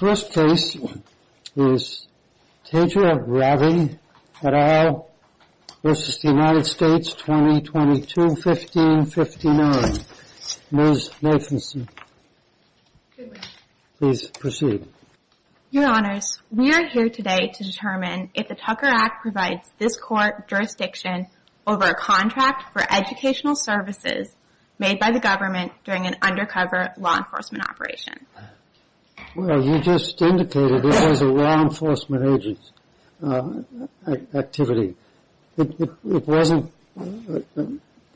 First place is Tejal Ravi et al. v. United States, 2022, 1559. Ms. Lathamson, please proceed. Your Honors, we are here today to determine if the Tucker Act provides this court jurisdiction over a contract for educational services made by the government during an undercover law enforcement operation. Well, you just indicated it was a law enforcement agent activity. It wasn't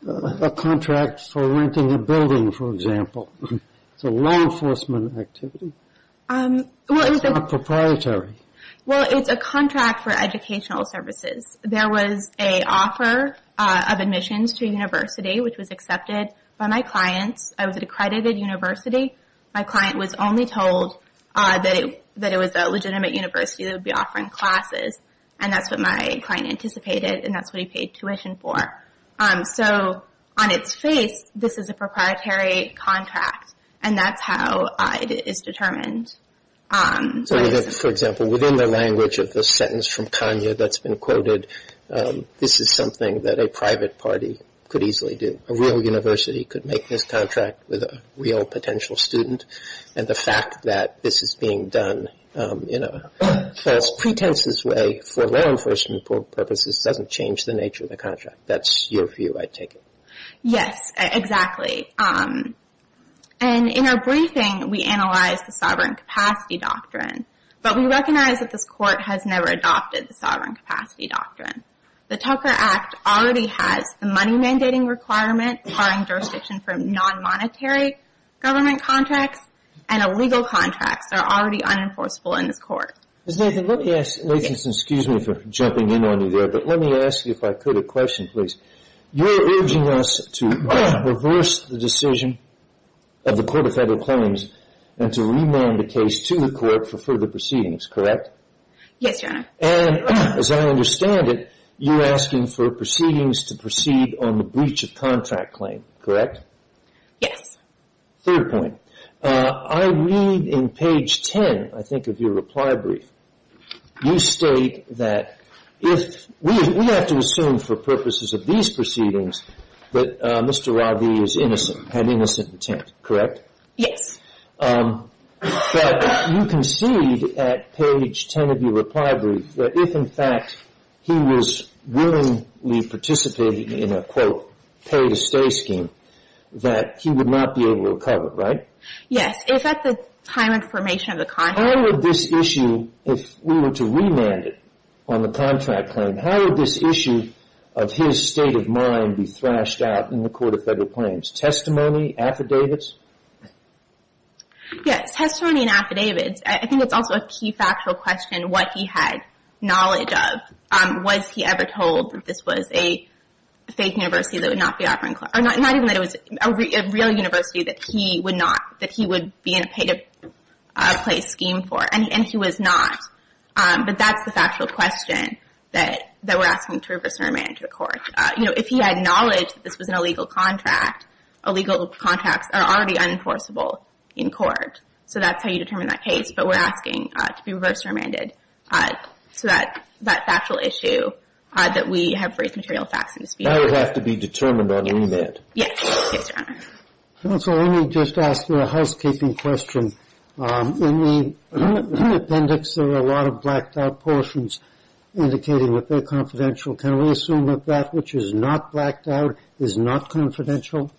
a contract for renting a building, for example. It's a law enforcement activity. It's not proprietary. Well, it's a contract for educational services. There was an offer of admissions to a university, which was accepted by my clients. I was at a credited university. My client was only told that it was a legitimate university that would be offering classes, and that's what my client anticipated, and that's what he paid tuition for. So, on its face, this is a proprietary contract, and that's how it is determined. So, for example, within the language of the sentence from Tanya that's been quoted, this is something that a private party could easily do. A real university could make this contract with a real potential student, and the fact that this is being done in a false pretenses way for law enforcement purposes doesn't change the nature of the contract. That's your view, I take it. Yes, exactly. And in our briefing, we analyzed the Sovereign Capacity Doctrine, but we recognize that this Court has never adopted the Sovereign Capacity Doctrine. The Tucker Act already has the money mandating requirement, requiring jurisdiction for non-monetary government contracts, and illegal contracts are already unenforceable in this Court. Ms. Nathan, let me ask, ladies and gentlemen, excuse me for jumping in on you there, but let me ask you if I could a question, please. You're urging us to reverse the decision of the Court of Federal Claims and to remand the case to the Court for further proceedings, correct? Yes, Your Honor. And as I understand it, you're asking for proceedings to proceed on the breach of contract claim, correct? Yes. Third point. I read in page 10, I think, of your reply brief. You state that if – we have to assume for purposes of these proceedings that Mr. Ravi is innocent, had innocent intent, correct? Yes. But you concede at page 10 of your reply brief that if, in fact, he was willingly participating in a, quote, pay-to-stay scheme, that he would not be able to recover, right? Yes. Is that the time and formation of the contract? How would this issue, if we were to remand it on the contract claim, how would this issue of his state of mind be thrashed out in the Court of Federal Claims? Testimony, affidavits? Yes. Testimony and affidavits. I think it's also a key factual question what he had knowledge of. Was he ever told that this was a fake university that would not be offering – or not even that it was a real university that he would not – that he would be in a pay-to-place scheme for? And he was not. But that's the factual question that we're asking to reverse and remand to the Court. You know, if he had knowledge that this was an illegal contract, illegal contracts are already unenforceable in court. So that's how you determine that case. But we're asking to be reverse remanded to that factual issue that we have raised material facts in dispute. That would have to be determined on remand. Yes. Yes, Your Honor. Counsel, let me just ask you a housekeeping question. In the appendix, there are a lot of blacked-out portions indicating that they're confidential. Can we assume that that which is not blacked out is not confidential?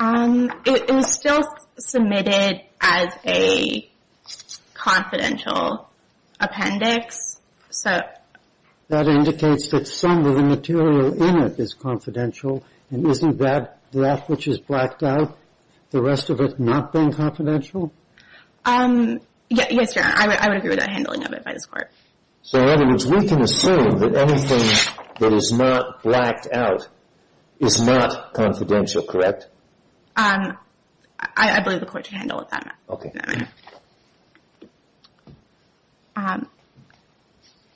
It was still submitted as a confidential appendix. So – That indicates that some of the material in it is confidential. And isn't that – that which is blacked out, the rest of it not being confidential? Yes, Your Honor. I would agree with that handling of it by this Court. So in other words, we can assume that anything that is not blacked out is not confidential, correct? I believe the Court should handle it that way.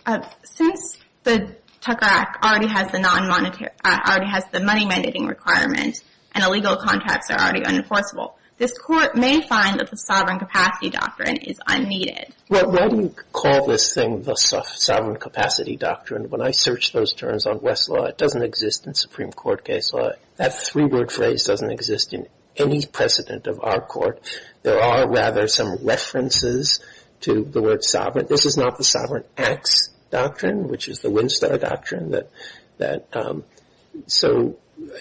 Okay. Since the Tucker Act already has the non-monetary – already has the money mandating requirement and illegal contracts are already unenforceable, this Court may find that the sovereign capacity doctrine is unneeded. Well, why do you call this thing the sovereign capacity doctrine? When I search those terms on Westlaw, it doesn't exist in Supreme Court case law. That three-word phrase doesn't exist in any precedent of our Court. There are, rather, some references to the word sovereign. This is not the sovereign acts doctrine, which is the Winstar Doctrine. So,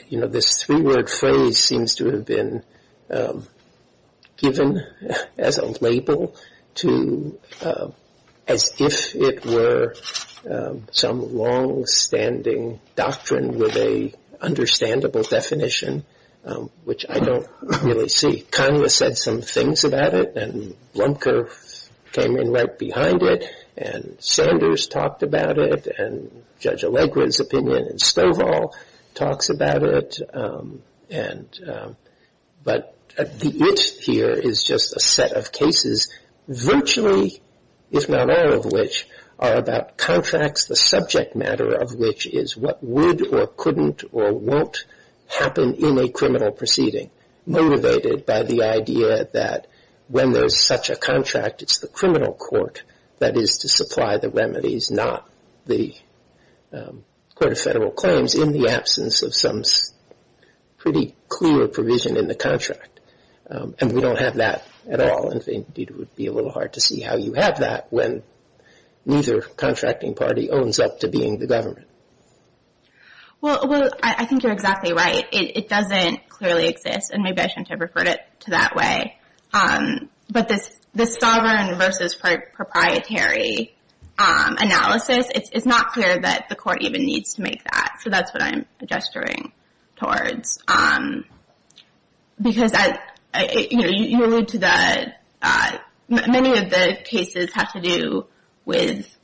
you know, this three-word phrase seems to have been given as a label to – as if it were some long-standing doctrine with an understandable definition, which I don't really see. Conway said some things about it, and Blumker came in right behind it, and Sanders talked about it, and Judge Allegra's opinion, and Stovall talks about it. But the it here is just a set of cases, virtually, if not all of which, are about contracts, the subject matter of which is what would or couldn't or won't happen in a criminal proceeding, motivated by the idea that when there's such a contract, it's the criminal court that is to supply the remedies, not the Court of Federal Claims, in the absence of some pretty clear provision in the contract. And we don't have that at all, and it would be a little hard to see how you have that when neither contracting party owns up to being the government. Well, I think you're exactly right. It doesn't clearly exist, and maybe I shouldn't have referred it to that way. But this sovereign versus proprietary analysis, it's not clear that the court even needs to make that. So that's what I'm gesturing towards. Many of the cases have to do with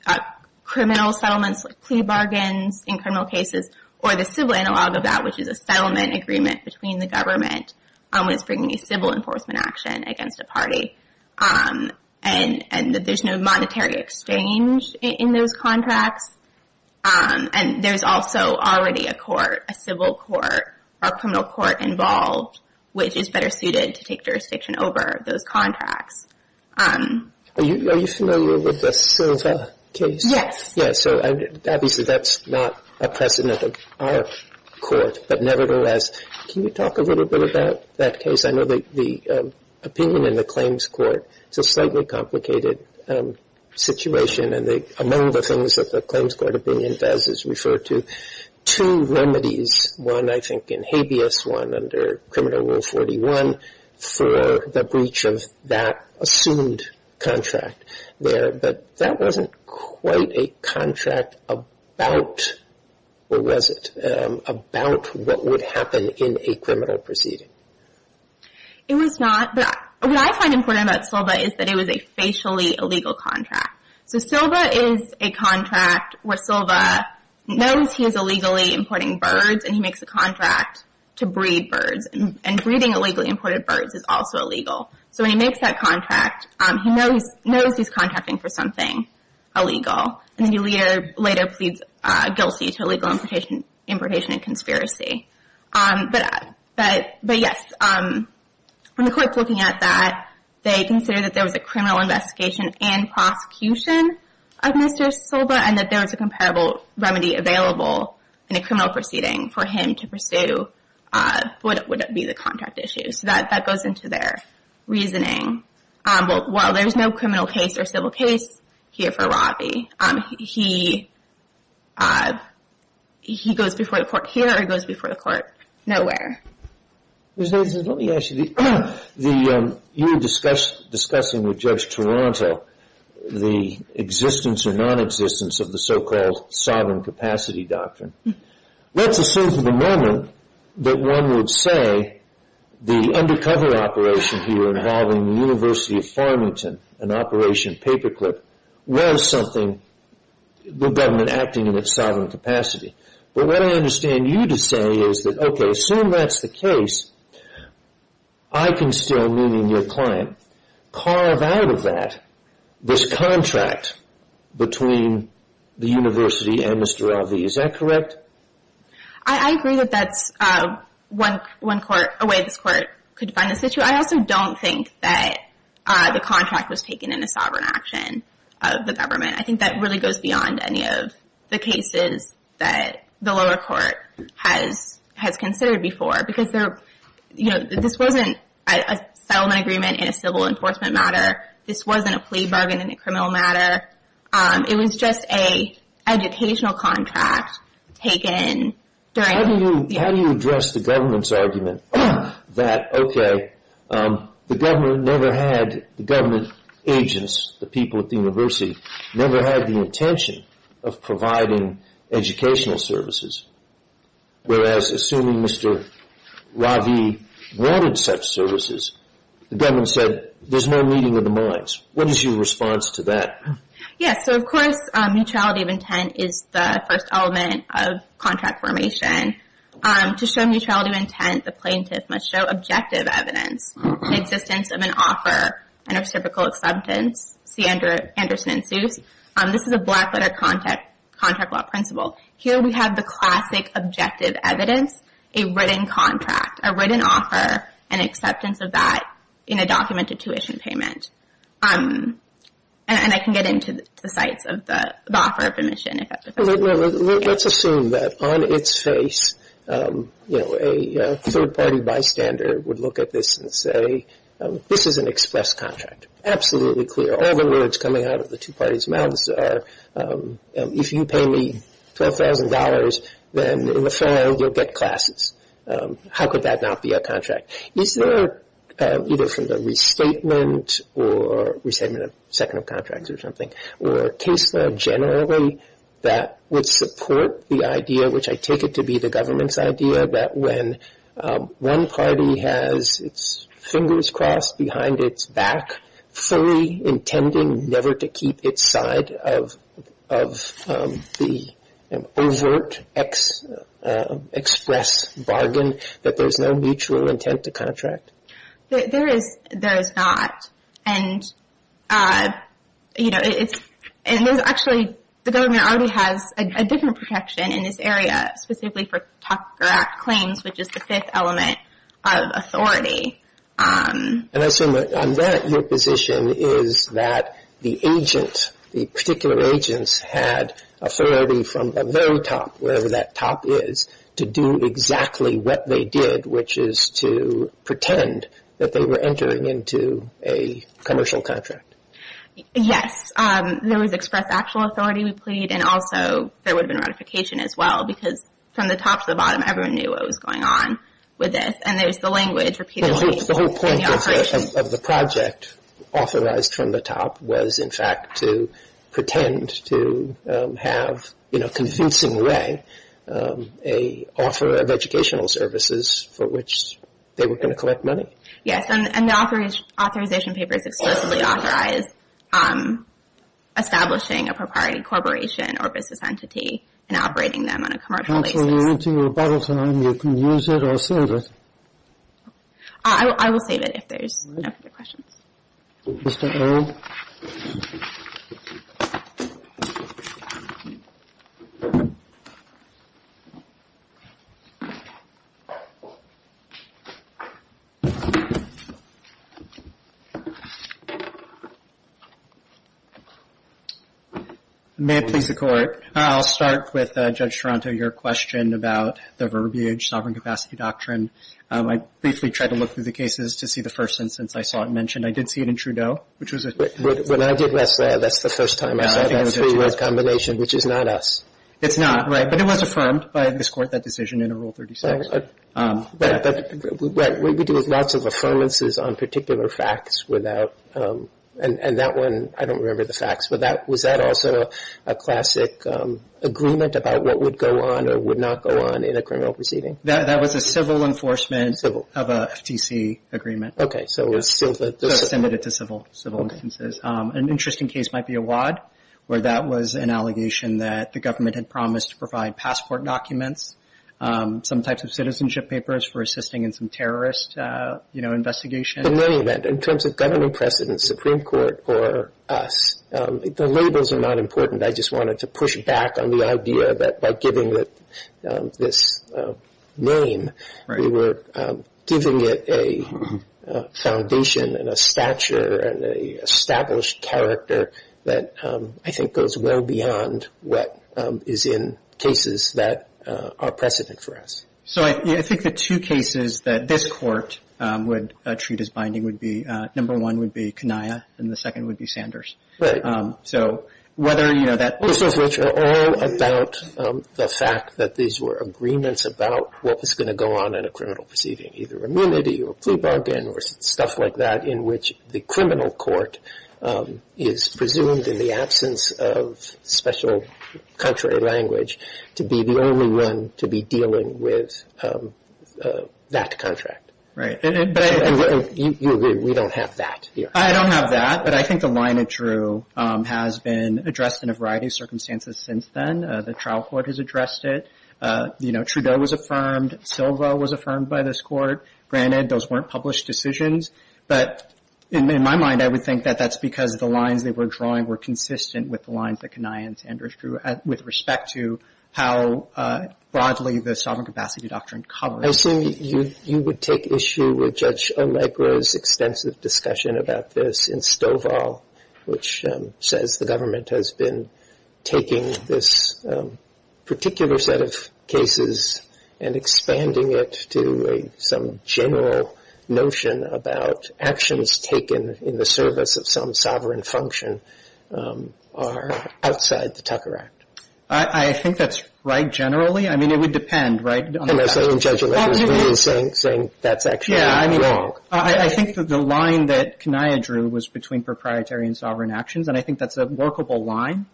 criminal settlements, plea bargains in criminal cases, or the civil analog of that, which is a settlement agreement between the government when it's bringing a civil enforcement action against a party, and that there's no monetary exchange in those contracts. And there's also already a court, a civil court, or a criminal court involved, which is better suited to take jurisdiction over those contracts. Are you familiar with the Silva case? Yes. Yeah, so obviously that's not a precedent of our court. But nevertheless, can you talk a little bit about that case? I know the opinion in the claims court, it's a slightly complicated situation, and among the things that the claims court opinion does is refer to two remedies, one I think in habeas, one under Criminal Rule 41, for the breach of that assumed contract there. But that wasn't quite a contract about, or was it, about what would happen in a criminal proceeding. It was not. What I find important about Silva is that it was a facially illegal contract. So Silva is a contract where Silva knows he is illegally importing birds, and he makes a contract to breed birds. And breeding illegally imported birds is also illegal. So when he makes that contract, he knows he's contracting for something illegal, and then he later pleads guilty to illegal importation and conspiracy. But yes, when the court's looking at that, they consider that there was a criminal investigation and prosecution of Mr. Silva, and that there was a comparable remedy available in a criminal proceeding for him to pursue what would be the contract issue. So that goes into their reasoning. While there's no criminal case or civil case here for Robbie, he goes before the court here or he goes before the court nowhere. Let me ask you, you were discussing with Judge Toronto the existence or nonexistence of the so-called sovereign capacity doctrine. Let's assume for the moment that one would say the undercover operation here involving the University of Farmington, an Operation Paperclip, was something, the government acting in its sovereign capacity. But what I understand you to say is that, okay, assume that's the case, I can still, meaning your client, carve out of that this contract between the University and Mr. Robbie. Is that correct? I agree that that's one way this court could find a situation. I also don't think that the contract was taken in a sovereign action of the government. I think that really goes beyond any of the cases that the lower court has considered before. Because this wasn't a settlement agreement in a civil enforcement matter. This wasn't a plea bargain in a criminal matter. It was just an educational contract taken during... How do you address the government's argument that, okay, the government never had, the government agents, the people at the university, never had the intention of providing educational services. Whereas assuming Mr. Robbie wanted such services, the government said, there's no meeting of the minds. What is your response to that? Yes, so of course neutrality of intent is the first element of contract formation. To show neutrality of intent, the plaintiff must show objective evidence, the existence of an offer, and reciprocal acceptance, see Anderson and Seuss. This is a black letter contract law principle. Here we have the classic objective evidence, a written contract, a written offer, and acceptance of that in a documented tuition payment. And I can get into the sites of the offer of admission. Let's assume that on its face, you know, a third-party bystander would look at this and say, this is an express contract. Absolutely clear. All the words coming out of the two parties' mouths are, if you pay me $12,000, then in the firm you'll get classes. How could that not be a contract? Is there either a restatement or restatement of second of contracts or something, or a case law generally that would support the idea, which I take it to be the government's idea, that when one party has its fingers crossed behind its back, fully intending never to keep its side of the overt express bargain, that there's no mutual intent to contract? There is not. And, you know, actually the government already has a different protection in this area, specifically for Tucker Act claims, which is the fifth element of authority. And I assume on that, your position is that the agent, the particular agents had authority from the very top, wherever that top is, to do exactly what they did, which is to pretend that they were entering into a commercial contract. Yes. There was express actual authority, we plead, and also there would have been ratification as well, because from the top to the bottom, everyone knew what was going on with this, and there was the language repeatedly in the operation. The whole point of the project, authorized from the top, was in fact to pretend to have, in a convincing way, an offer of educational services for which they were going to collect money? Yes. And the authorization papers explicitly authorize establishing a proprietary corporation or business entity and operating them on a commercial basis. When we're into rebuttal time, you can use it or save it. I will save it if there's no further questions. Mr. O? May it please the Court. I'll start with Judge Toronto. Your question about the verbiage, sovereign capacity doctrine, I briefly tried to look through the cases to see the first instance I saw it mentioned. I did see it in Trudeau. When I did last night, that's the first time I saw that three-word combination, which is not us. It's not, right. But it was affirmed by this Court, that decision in Rule 36. Right. What we do is lots of affirmances on particular facts without, and that one, I don't remember the facts, but was that also a classic agreement about what would go on or would not go on in a criminal proceeding? That was a civil enforcement of a FTC agreement. Okay. So it was civil. So it was submitted to civil instances. Okay. An interesting case might be Awad, where that was an allegation that the government had promised to provide passport documents, some types of citizenship papers for assisting in some terrorist, you know, investigation. In any event, in terms of governing precedent, Supreme Court or us, the labels are not important. I just wanted to push back on the idea that by giving it this name, we were giving it a foundation and a stature and an established character that I think goes well beyond what is in cases that are precedent for us. So I think the two cases that this Court would treat as binding would be, number one would be Kaniyia and the second would be Sanders. Right. So whether, you know, that... Those are all about the fact that these were agreements about what was going to go on in a criminal proceeding, either immunity or plea bargain or stuff like that, in which the criminal court is presumed in the absence of special country language to be the only one to be dealing with that contract. Right. And you agree we don't have that here. I don't have that, but I think the line it drew has been addressed in a variety of circumstances since then. The trial court has addressed it. You know, Trudeau was affirmed. Silva was affirmed by this Court. Granted, those weren't published decisions, but in my mind I would think that that's because the lines they were drawing were consistent with the lines that Kaniyia and Sanders drew with respect to how broadly the sovereign capacity doctrine covers... I assume you would take issue with Judge Allegra's extensive discussion about this in Stovall, which says the government has been taking this particular set of cases and expanding it to some general notion about actions taken in the service of some sovereign function are outside the Tucker Act. I think that's right generally. I mean, it would depend, right... And I say in Judge Allegra's ruling saying that's actually wrong. I think that the line that Kaniyia drew was between proprietary and sovereign actions, and I think that's a workable line.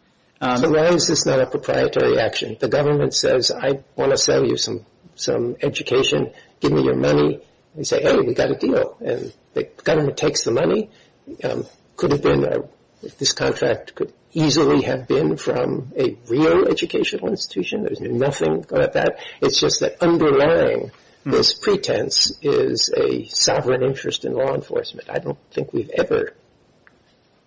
So why is this not a proprietary action? The government says I want to sell you some education. Give me your money. They say, hey, we got a deal. And the government takes the money. Could have been this contract could easily have been from a real educational institution. There's nothing about that. It's just that underlying this pretense is a sovereign interest in law enforcement. I don't think we've ever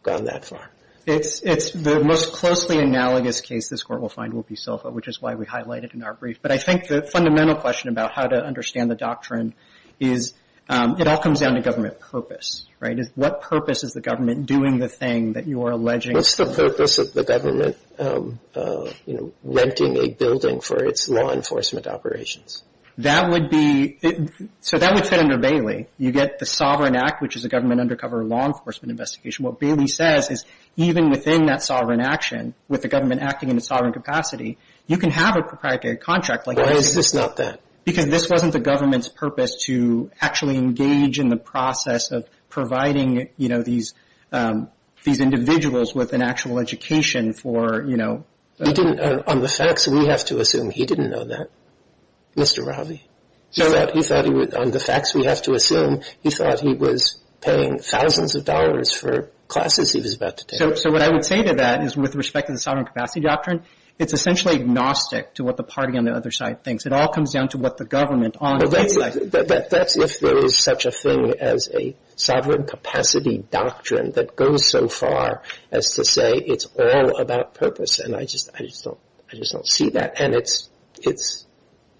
gone that far. It's the most closely analogous case this Court will find will be SILFA, which is why we highlight it in our brief. But I think the fundamental question about how to understand the doctrine is it all comes down to government purpose, right. What purpose is the government doing the thing that you are alleging... What's the purpose of the government, you know, renting a building for its law enforcement operations? That would be... So that would fit under Bailey. You get the Sovereign Act, which is a government undercover law enforcement investigation. What Bailey says is even within that sovereign action, with the government acting in a sovereign capacity, you can have a proprietary contract. Why is this not that? Because this wasn't the government's purpose to actually engage in the process of providing, you know, these individuals with an actual education for, you know... On the facts, we have to assume he didn't know that, Mr. Ravi. On the facts, we have to assume he thought he was paying thousands of dollars for classes he was about to take. So what I would say to that is with respect to the sovereign capacity doctrine, it's essentially agnostic to what the party on the other side thinks. It all comes down to what the government on the other side thinks. But that's if there is such a thing as a sovereign capacity doctrine that goes so far as to say it's all about purpose. And I just don't see that. And it's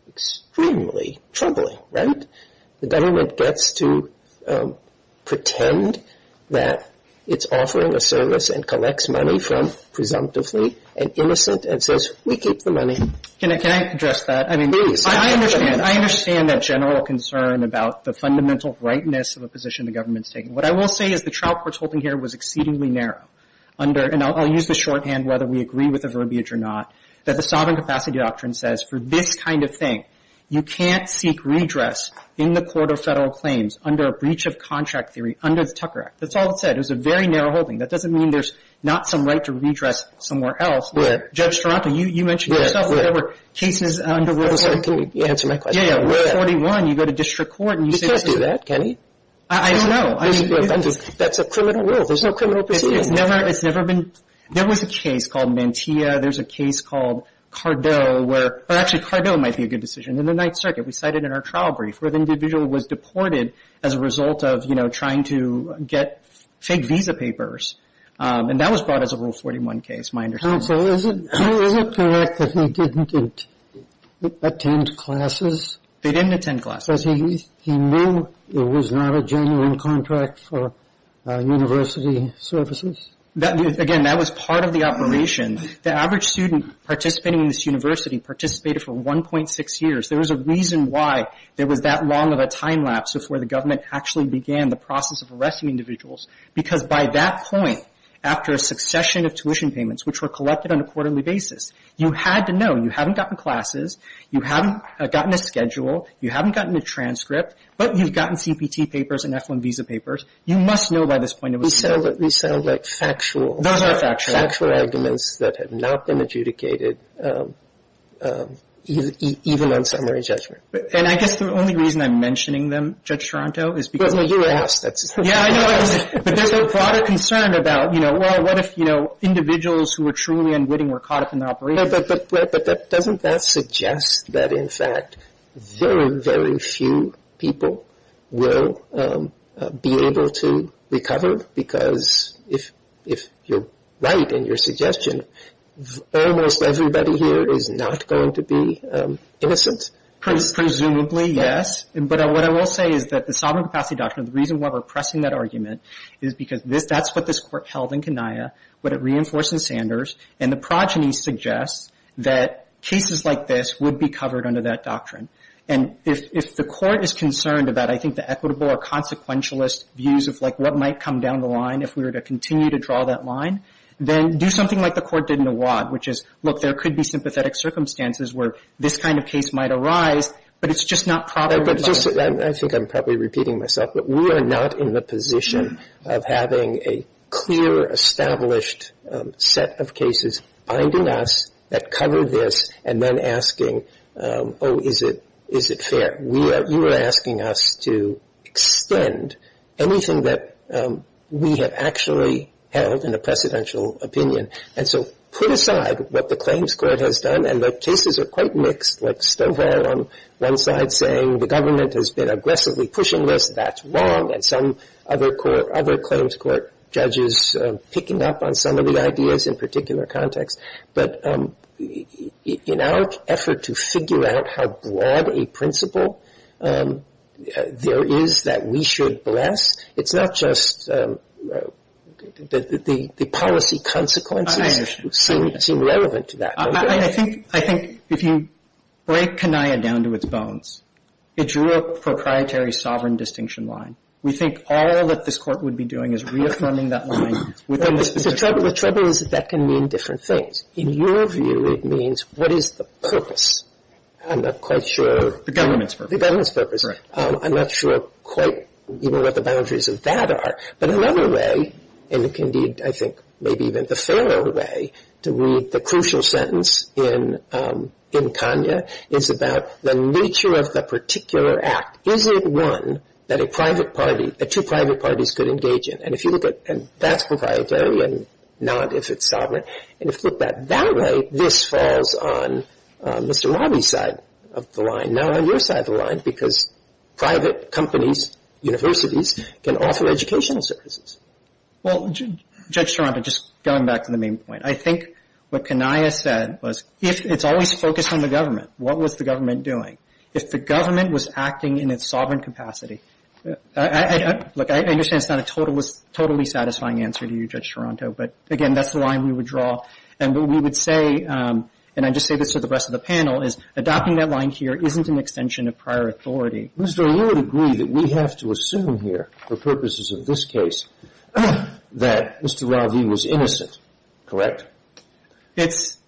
extremely troubling, right? The government gets to pretend that it's offering a service and collects money from presumptively an innocent and says, we keep the money. Can I address that? Please. I understand that general concern about the fundamental rightness of a position the government's taking. What I will say is the trial court's holding here was exceedingly narrow under, and I'll use this shorthand whether we agree with the verbiage or not, that the sovereign capacity doctrine says for this kind of thing, you can't seek redress in the court of federal claims under a breach of contract theory under the Tucker Act. That's all it said. It was a very narrow holding. That doesn't mean there's not some right to redress somewhere else. Where? Judge Taranto, you mentioned yourself. Where? Whatever cases under rule of law. Can you answer my question? Yeah, yeah. Where? Rule 41, you go to district court and you say. You can't do that, can you? I don't know. That's a criminal rule. There's no criminal proceeding. It's never been. There was a case called Mantilla. There's a case called Cardo where – or actually, Cardo might be a good decision. In the Ninth Circuit, we cited in our trial brief where the individual was deported as a result of, you know, trying to get fake visa papers. And that was brought as a rule 41 case, my understanding. Counsel, is it correct that he didn't attend classes? They didn't attend classes. Because he knew it was not a genuine contract for university services? Again, that was part of the operation. The average student participating in this university participated for 1.6 years. There was a reason why there was that long of a time lapse before the government actually began the process of arresting individuals. Because by that point, after a succession of tuition payments, which were collected on a quarterly basis, you had to know. You haven't gotten classes. You haven't gotten a schedule. You haven't gotten a transcript. But you've gotten CPT papers and F-1 visa papers. You must know by this point it was. These sound like factual. Those are factual. Factual arguments that have not been adjudicated, even on summary judgment. And I guess the only reason I'm mentioning them, Judge Toronto, is because. Well, you asked. Yeah, I know. But there's a broader concern about, you know, well, what if, you know, individuals who were truly unwitting were caught up in the operation? But doesn't that suggest that, in fact, very, very few people will be able to recover? Because if you're right in your suggestion, almost everybody here is not going to be innocent. Presumably, yes. But what I will say is that the Sovereign Capacity Doctrine, the reason why we're pressing that argument, is because that's what this Court held in Kenia, what it reinforced in Sanders, and the progeny suggests that cases like this would be covered under that doctrine. And if the Court is concerned about, I think, the equitable or consequentialist views of, like, what might come down the line if we were to continue to draw that line, then do something like the Court did in Awad, which is, look, there could be sympathetic circumstances where this kind of case might arise, but it's just not properly. I think I'm probably repeating myself. But we are not in the position of having a clear, established set of cases binding us that cover this and then asking, oh, is it fair? You are asking us to extend anything that we have actually held in a precedential opinion. And so put aside what the Claims Court has done, and the cases are quite mixed, like Stovall on one side saying the government has been aggressively pushing this, that's wrong, and some other Claims Court judges picking up on some of the ideas in a particular context. But in our effort to figure out how broad a principle there is that we should bless, it's not just that the policy consequences seem relevant to that. I think if you break Kaniyia down to its bones, it drew a proprietary sovereign distinction line. We think all that this Court would be doing is reaffirming that line within this particular case. So the trouble is that that can mean different things. In your view, it means what is the purpose? I'm not quite sure. The government's purpose. The government's purpose. Right. I'm not sure quite even what the boundaries of that are. But another way, and indeed I think maybe even the fairer way to read the crucial sentence in Kaniyia, is about the nature of the particular act. Is it one that a private party, that two private parties could engage in? And if you look at that's proprietary and not if it's sovereign. And if you look at that way, this falls on Mr. Robby's side of the line. And now on your side of the line, because private companies, universities, can offer educational services. Well, Judge Toronto, just going back to the main point. I think what Kaniyia said was if it's always focused on the government, what was the government doing? If the government was acting in its sovereign capacity, look, I understand it's not a totally satisfying answer to you, Judge Toronto. But, again, that's the line we would draw. And what we would say, and I just say this to the rest of the panel, is adopting that line here isn't an extension of prior authority. Mr. O'Leary would agree that we have to assume here, for purposes of this case, that Mr. Robby was innocent. Correct? It's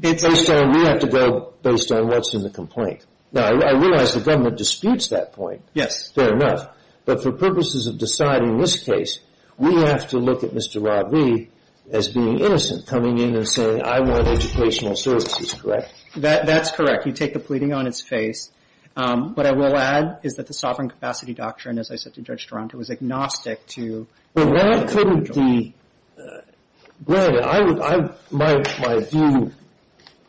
based on we have to go based on what's in the complaint. Now, I realize the government disputes that point. Yes. Fair enough. But for purposes of deciding this case, we have to look at Mr. Robby as being innocent, coming in and saying, I want educational services. Correct? That's correct. You take the pleading on its face. What I will add is that the sovereign capacity doctrine, as I said to Judge Toronto, is agnostic to the government. Well, why couldn't the – well, my view,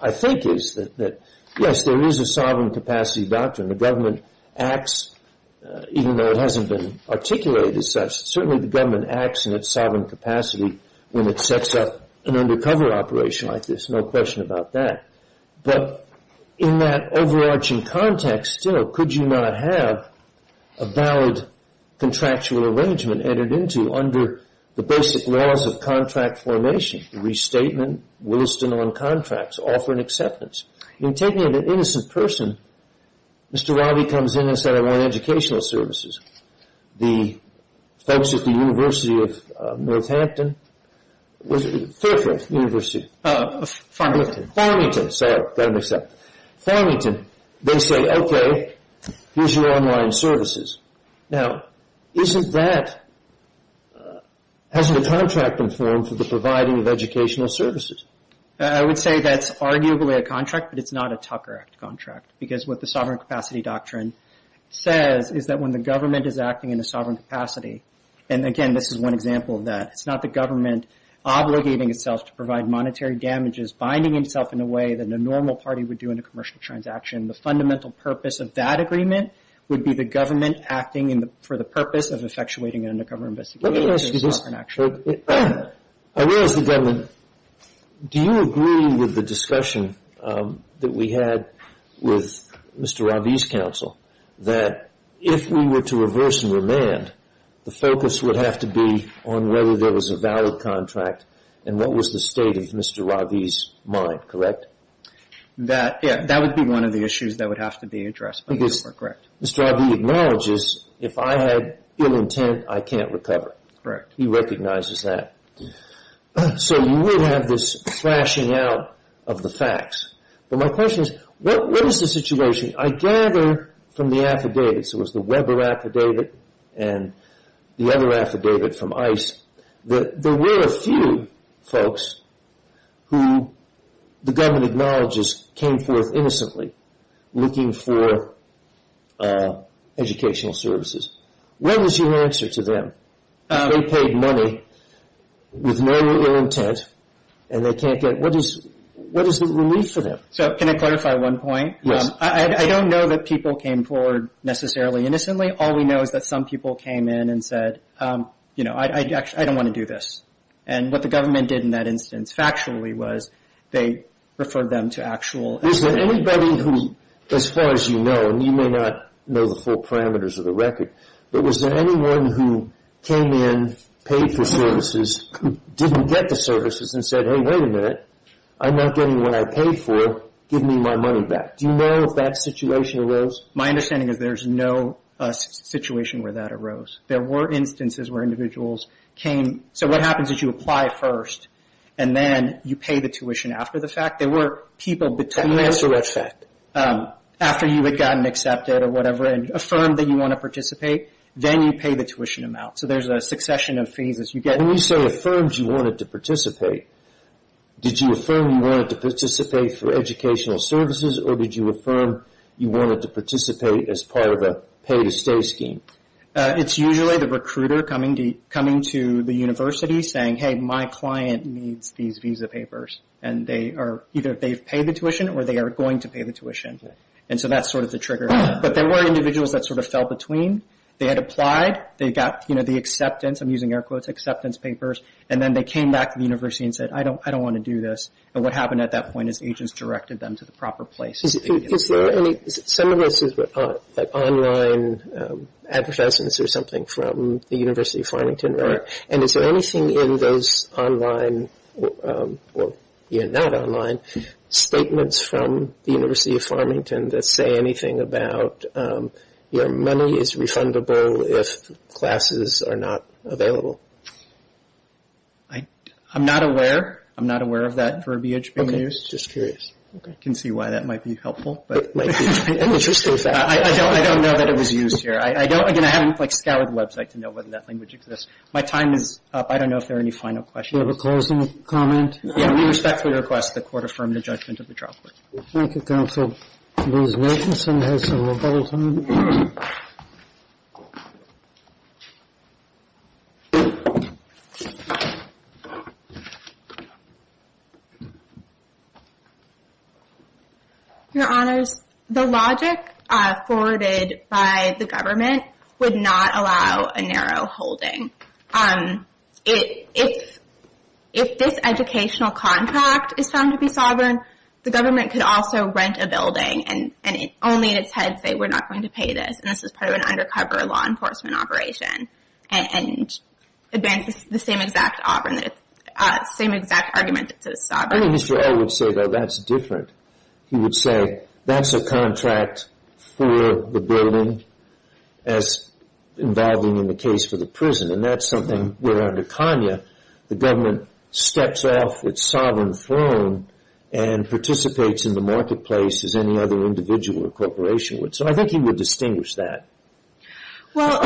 I think, is that, yes, there is a sovereign capacity doctrine. The government acts, even though it hasn't been articulated such, certainly the government acts in its sovereign capacity when it sets up an undercover operation like this. No question about that. But in that overarching context, you know, could you not have a valid contractual arrangement entered into under the basic laws of contract formation? Restatement, Williston on contracts, offer and acceptance. In taking an innocent person, Mr. Robby comes in and says, I want educational services. The folks at the University of Northampton – Fairfax University. Farmington. Farmington. Farmington. They say, okay, here's your online services. Now, isn't that – hasn't the contract been formed for the providing of educational services? I would say that's arguably a contract, but it's not a Tucker Act contract, because what the sovereign capacity doctrine says is that when the government is acting in a sovereign capacity – and, again, this is one example of that. It's not the government obligating itself to provide monetary damages, binding itself in a way that no normal party would do in a commercial transaction. The fundamental purpose of that agreement would be the government acting for the purpose of effectuating an undercover investigation. Let me ask you this. I realize the government – do you agree with the discussion that we had with Mr. Robby's counsel that if we were to reverse and remand, the focus would have to be on whether there was a valid contract and what was the state of Mr. Robby's mind, correct? That would be one of the issues that would have to be addressed by the court, correct. Mr. Robby acknowledges, if I had ill intent, I can't recover. Correct. He recognizes that. So you would have this thrashing out of the facts. But my question is, what is the situation? I gather from the affidavits – it was the Weber affidavit and the other affidavit from ICE – that there were a few folks who the government acknowledges came forth innocently looking for educational services. What was your answer to them? They paid money with no ill intent and they can't get – what is the relief for them? Can I clarify one point? Yes. I don't know that people came forward necessarily innocently. All we know is that some people came in and said, you know, I don't want to do this. And what the government did in that instance factually was they referred them to actual – Is there anybody who, as far as you know, and you may not know the full parameters of the record, but was there anyone who came in, paid for services, didn't get the services and said, hey, wait a minute, I'm not getting what I paid for, give me my money back. Do you know if that situation arose? My understanding is there's no situation where that arose. There were instances where individuals came – so what happens is you apply first and then you pay the tuition after the fact. There were people between – After effect. After you had gotten accepted or whatever and affirmed that you want to participate, then you pay the tuition amount. So there's a succession of phases. When you say affirmed you wanted to participate, did you affirm you wanted to participate for educational services or did you affirm you wanted to participate as part of a pay-to-stay scheme? It's usually the recruiter coming to the university saying, hey, my client needs these visa papers. And they are – either they've paid the tuition or they are going to pay the tuition. And so that's sort of the trigger. But there were individuals that sort of fell between. They had applied. They got, you know, the acceptance – I'm using air quotes, acceptance papers. And then they came back to the university and said, I don't want to do this. And what happened at that point is agents directed them to the proper places. Is there any – some of this is online advertisements or something from the University of Farmington, right? Correct. And is there anything in those online – or not online – statements from the University of Farmington that say anything about, you know, money is refundable if classes are not available? I'm not aware. I'm not aware of that verbiage being used. Okay. Just curious. Okay. I can see why that might be helpful. Interesting fact. I don't know that it was used here. I don't – again, I haven't, like, scoured the website to know whether that language exists. My time is up. I don't know if there are any final questions. Do you have a closing comment? Yeah. We respectfully request the Court affirm the judgment of the trial court. Thank you, Counsel. Ms. Nicholson has some rebuttals. Your Honors, the logic forwarded by the government would not allow a narrow holding. If this educational contract is found to be sovereign, the government could also rent a building and only in its head say we're not going to pay this and this is part of an undercover law enforcement operation and advance the same exact argument that it's sovereign. I think Mr. O would say that that's different. He would say that's a contract for the building as involving in the case for the prison. And that's something where under Kanye the government steps off its sovereign throne and participates in the marketplace as any other individual or corporation would. So I think he would distinguish that. Well,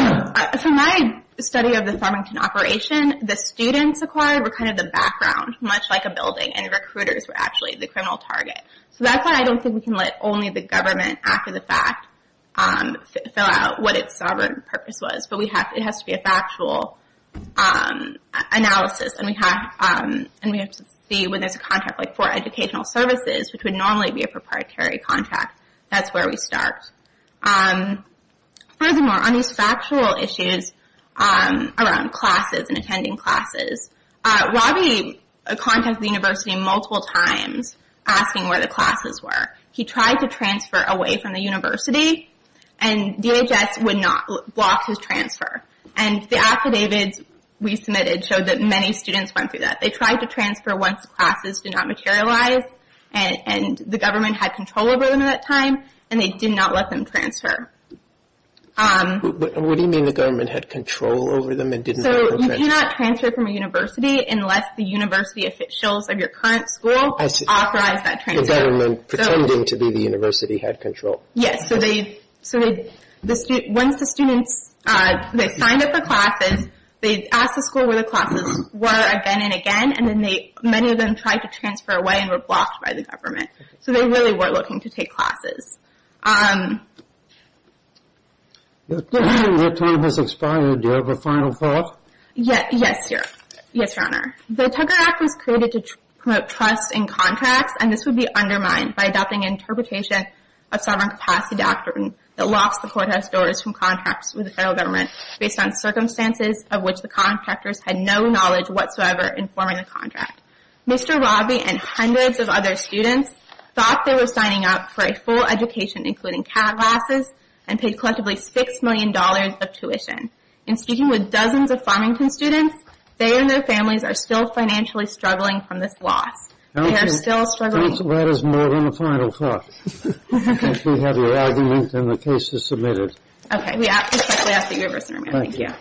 from my study of the Farmington operation, the students acquired were kind of the background, much like a building, and recruiters were actually the criminal target. So that's why I don't think we can let only the government after the fact fill out what its sovereign purpose was. But it has to be a factual analysis. And we have to see when there's a contract for educational services, which would normally be a proprietary contract, that's where we start. Furthermore, on these factual issues around classes and attending classes, Robbie contacted the university multiple times asking where the classes were. He tried to transfer away from the university and DHS would not block his transfer. And the affidavits we submitted showed that many students went through that. They tried to transfer once classes did not materialize and the government had control over them at that time, and they did not let them transfer. What do you mean the government had control over them and didn't let them transfer? So you cannot transfer from a university unless the university officials of your current school authorize that transfer. The government, pretending to be the university, had control. Yes, so once the students signed up for classes, they asked the school where the classes were again and again, and many of them tried to transfer away and were blocked by the government. So they really were looking to take classes. Your time has expired. Do you have a final thought? Yes, Your Honor. The Tugger Act was created to promote trust in contracts, and this would be undermined by adopting an interpretation of Sovereign Capacity Doctrine that locks the courthouse doors from contracts with the federal government based on circumstances of which the contractors had no knowledge whatsoever in forming a contract. Mr. Robby and hundreds of other students thought they were signing up for a full education including CAT classes and paid collectively $6 million of tuition. In speaking with dozens of Farmington students, they and their families are still financially struggling from this loss. They are still struggling. That is more than a final thought. I think we have your argument and the case is submitted. Okay, we respectfully ask that you reverse your amendment. Thank you.